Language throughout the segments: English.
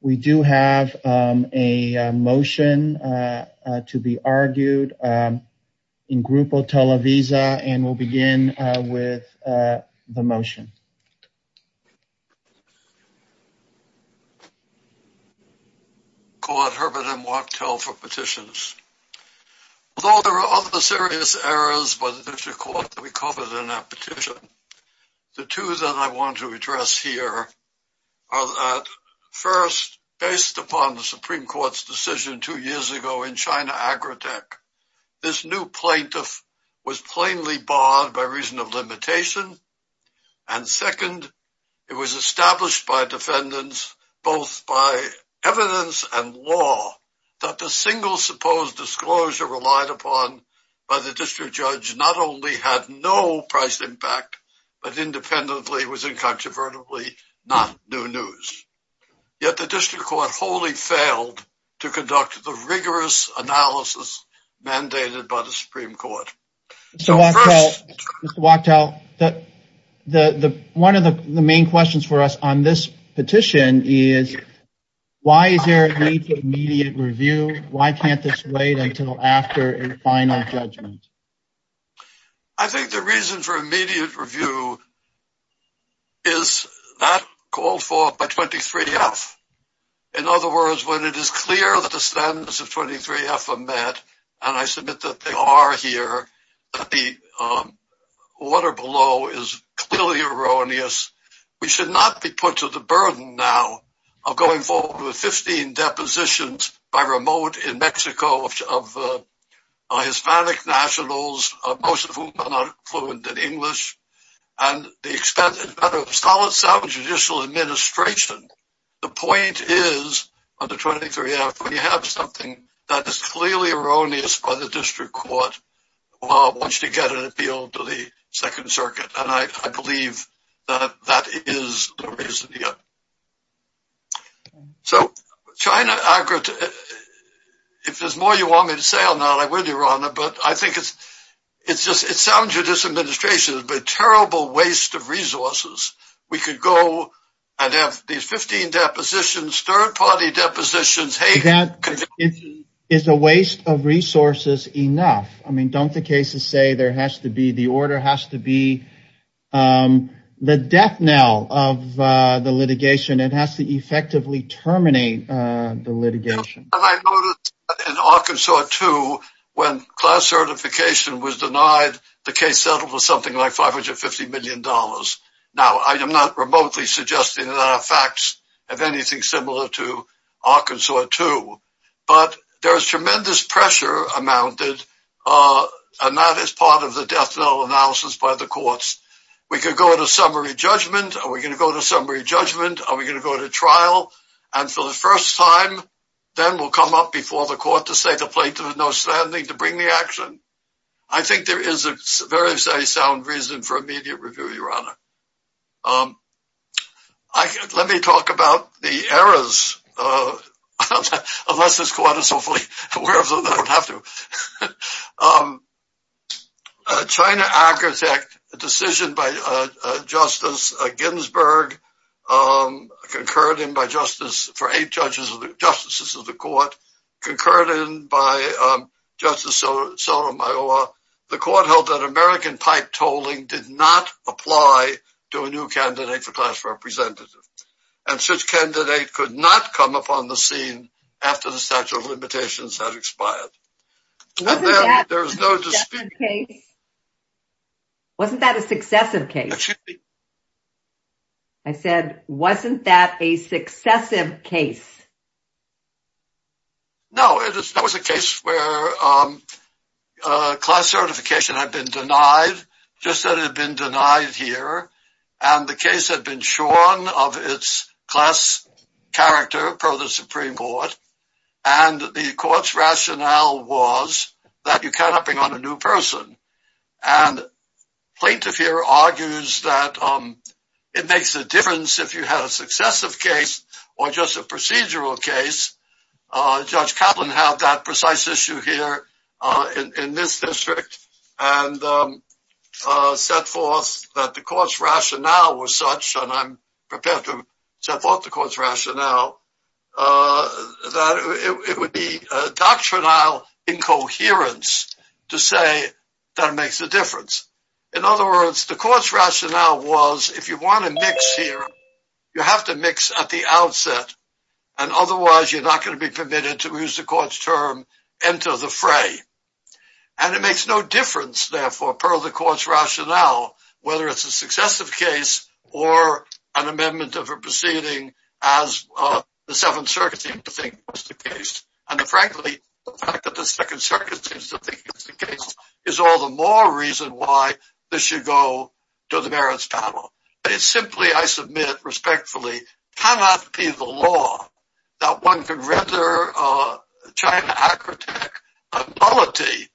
We do have a motion to be argued in Grupo Televisa, and we'll begin with the motion. I call on Herbert M. Wachtell for petitions. Although there are other serious errors by the District Court to be covered in that petition, the two that I want to address here are that first, based upon the Supreme Court's decision two years ago in China Agrotech, this new plaintiff was plainly barred by reason of limitation, and second, it was established by defendants both by evidence and law that the single supposed disclosure relied upon by the District Judge not only had no price impact, but independently was incontrovertibly not new news. Yet the District Court wholly failed to conduct the rigorous analysis mandated by the Supreme Court. Mr. Wachtell, one of the main questions for us on this petition is, why is there a need for immediate review? Why can't this wait until after a final judgment? I think the reason for immediate review is that called for by 23F. In other words, when it is clear that the standards of 23F are met, and I submit that they are here, the order below is clearly erroneous. We should not be put to the burden now of going forward with 15 depositions by remote in Mexico of Hispanic nationals, most of whom are not fluent in English. At the expense of a solid, sound judicial administration, the point is, under 23F, when you have something that is clearly erroneous by the District Court, I want you to get an appeal to the Second Circuit, and I believe that that is the reason here. So, China, if there's more you want me to say or not, I will, Your Honor, but I think it's just, it's sound judicial administration, but terrible waste of resources. We could go and have these 15 depositions, third-party depositions. That is a waste of resources enough. I mean, don't the cases say there has to be, the order has to be the death knell of the litigation. It has to effectively terminate the litigation. And I noticed that in Arkansas, too, when class certification was denied, the case settled for something like $550 million. Now, I am not remotely suggesting there are facts of anything similar to Arkansas, too, but there is tremendous pressure amounted, and that is part of the death knell analysis by the courts. We could go to summary judgment. Are we going to go to summary judgment? Are we going to go to trial? And for the first time, then we'll come up before the court to say the plaintiff has no standing to bring the action? I think there is a very sound reason for immediate review, Your Honor. Let me talk about the errors, unless this court is hopefully aware of them. They don't have to. China Architect, a decision by Justice Ginsburg, concurred in by Justice, for eight justices of the court, concurred in by Justice Sotomayor. The court held that American pipe tolling did not apply to a new candidate for class representative, and such candidate could not come upon the scene after the statute of limitations had expired. Wasn't that a successive case? Wasn't that a successive case? I said, wasn't that a successive case? No, that was a case where class certification had been denied, just as it had been denied here, and the case had been shorn of its class character, pro the Supreme Court, and the court's rationale was that you cannot bring on a new person. And plaintiff here argues that it makes a difference if you have a successive case or just a procedural case. Judge Kaplan had that precise issue here in this district, and set forth that the court's rationale was such, and I'm prepared to set forth the court's rationale, that it would be doctrinal incoherence to say that it makes a difference. In other words, the court's rationale was, if you want to mix here, you have to mix at the outset, and otherwise you're not going to be permitted to use the court's term, enter the fray. And it makes no difference, therefore, per the court's rationale, whether it's a successive case or an amendment of a proceeding as the Seventh Circuit seems to think is the case. And frankly, the fact that the Second Circuit seems to think it's the case is all the more reason why this should go to the merits panel. But it simply, I submit respectfully, cannot be the law that one could render China Agrotech a nullity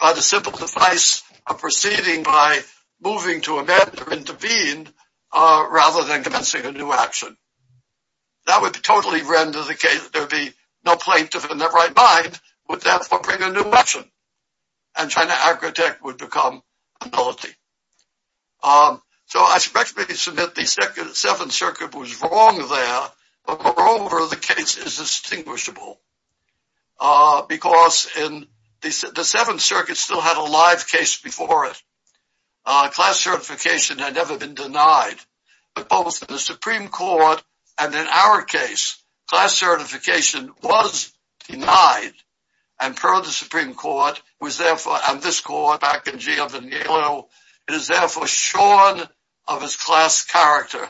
by the simple device of proceeding by moving to amend or intervene rather than commencing a new action. That would totally render the case that there would be no plaintiff in their right mind, would therefore bring a new action, and China Agrotech would become a nullity. So I respectfully submit the Seventh Circuit was wrong there. Moreover, the case is distinguishable because the Seventh Circuit still had a live case before it. Class certification had never been denied. But both in the Supreme Court and in our case, class certification was denied, and per the Supreme Court, and this court back in Giovannino, it is therefore shorn of its class character.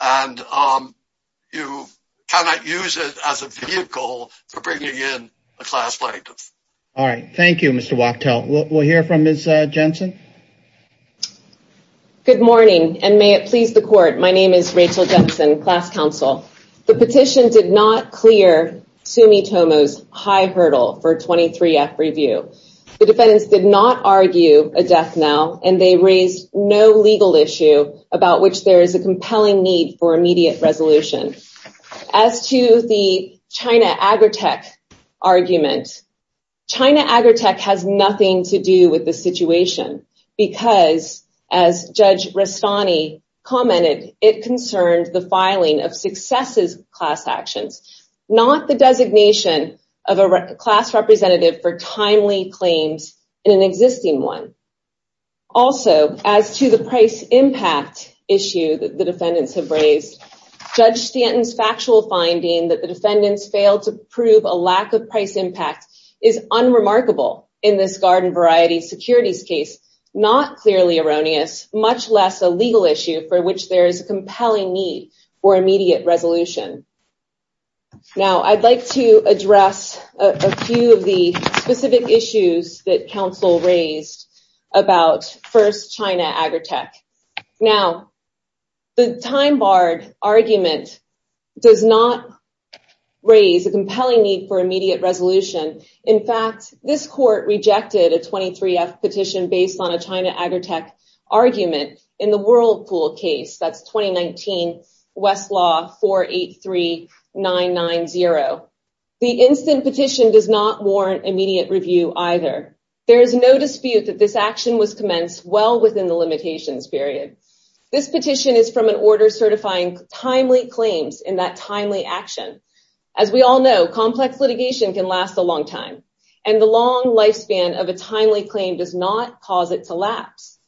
And you cannot use it as a vehicle for bringing in a class plaintiff. All right. Thank you, Mr. Wachtel. We'll hear from Ms. Jensen. Good morning, and may it please the court. My name is Rachel Jensen, class counsel. The petition did not clear Sumitomo's high hurdle for 23F review. The defendants did not argue a death now, and they raised no legal issue about which there is a compelling need for immediate resolution. As to the China Agrotech argument, China Agrotech has nothing to do with the situation because, as Judge Rastani commented, it concerned the filing of successes class actions, not the designation of a class representative for timely claims in an existing one. Also, as to the price impact issue that the defendants have raised, Judge Stanton's factual finding that the defendants failed to prove a lack of price impact is unremarkable in this garden variety securities case, not clearly erroneous, much less a legal issue for which there is a compelling need for immediate resolution. Now, I'd like to address a few of the specific issues that counsel raised about First China Agrotech. Now, the time barred argument does not raise a compelling need for immediate resolution. In fact, this court rejected a 23F petition based on a China Agrotech argument in the Whirlpool case, that's 2019 Westlaw 483990. The instant petition does not warrant immediate review either. There is no dispute that this action was commenced well within the limitations period. This petition is from an order certifying timely claims in that timely action. As we all know, complex litigation can last a long time, and the long lifespan of a timely claim does not cause it to lapse.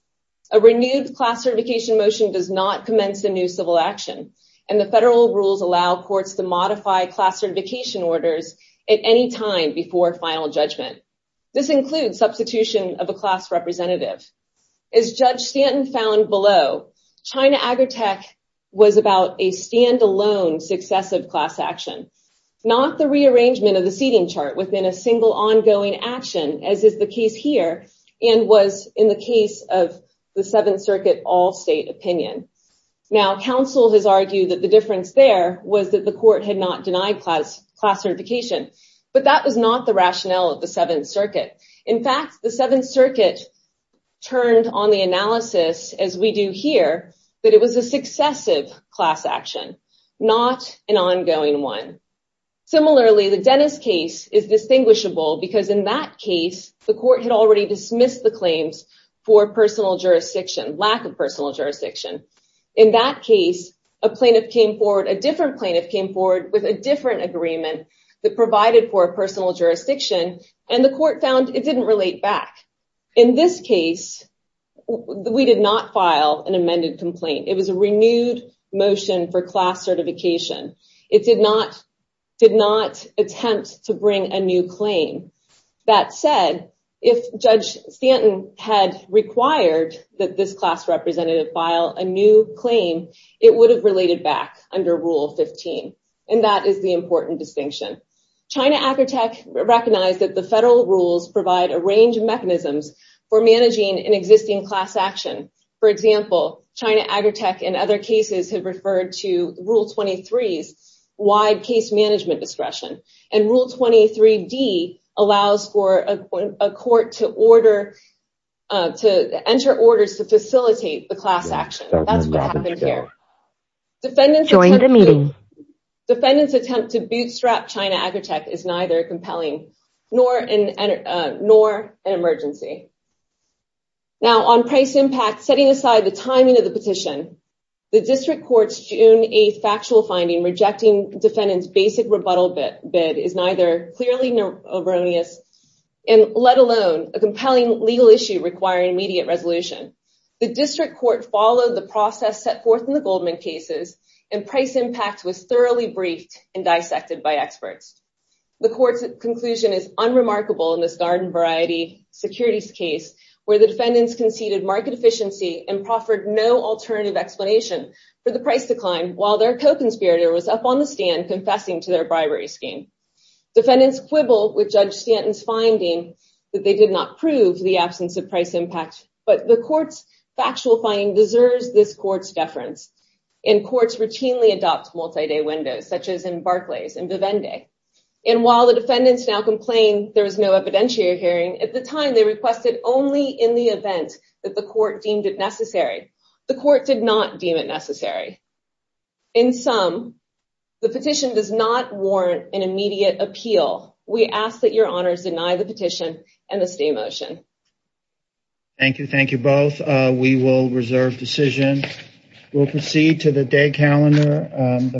A renewed class certification motion does not commence the new civil action, and the federal rules allow courts to modify class certification orders at any time before final judgment. This includes substitution of a class representative. As Judge Stanton found below, China Agrotech was about a standalone successive class action, not the rearrangement of the seating chart within a single ongoing action, as is the case here, and was in the case of the Seventh Circuit all-state opinion. Now, counsel has argued that the difference there was that the court had not denied class certification, but that was not the rationale of the Seventh Circuit. In fact, the Seventh Circuit turned on the analysis, as we do here, that it was a successive class action, not an ongoing one. Similarly, the Dennis case is distinguishable because in that case, the court had already dismissed the claims for lack of personal jurisdiction. In that case, a different plaintiff came forward with a different agreement that provided for personal jurisdiction, and the court found it didn't relate back. In this case, we did not file an amended complaint. It was a renewed motion for class certification. It did not attempt to bring a new claim. That said, if Judge Stanton had required that this class representative file a new claim, it would have related back under Rule 15, and that is the important distinction. China Agritech recognized that the federal rules provide a range of mechanisms for managing an existing class action. For example, China Agritech in other cases had referred to Rule 23's wide case management discretion, and Rule 23D allows for a court to enter orders to facilitate the class action. That's what happened here. Join the meeting. Defendants' attempt to bootstrap China Agritech is neither compelling nor an emergency. Now, on price impact, setting aside the timing of the petition, the district court's June 8th factual finding rejecting defendants' basic rebuttal bid is neither clearly erroneous, let alone a compelling legal issue requiring immediate resolution. The district court followed the process set forth in the Goldman cases, and price impact was thoroughly briefed and dissected by experts. The court's conclusion is unremarkable in this garden-variety securities case, where the defendants conceded market efficiency and proffered no alternative explanation for the price decline, while their co-conspirator was up on the stand confessing to their bribery scheme. Defendants quibble with Judge Stanton's finding that they did not prove the absence of price impact, but the court's factual finding deserves this court's deference. And courts routinely adopt multi-day windows, such as in Barclays and Vivendi. And while the defendants now complain there was no evidentiary hearing, at the time they requested only in the event that the court deemed it necessary. The court did not deem it necessary. In sum, the petition does not warrant an immediate appeal. We ask that your honors deny the petition and the stay motion. Thank you. Thank you both. We will reserve decision. We'll proceed to the day calendar.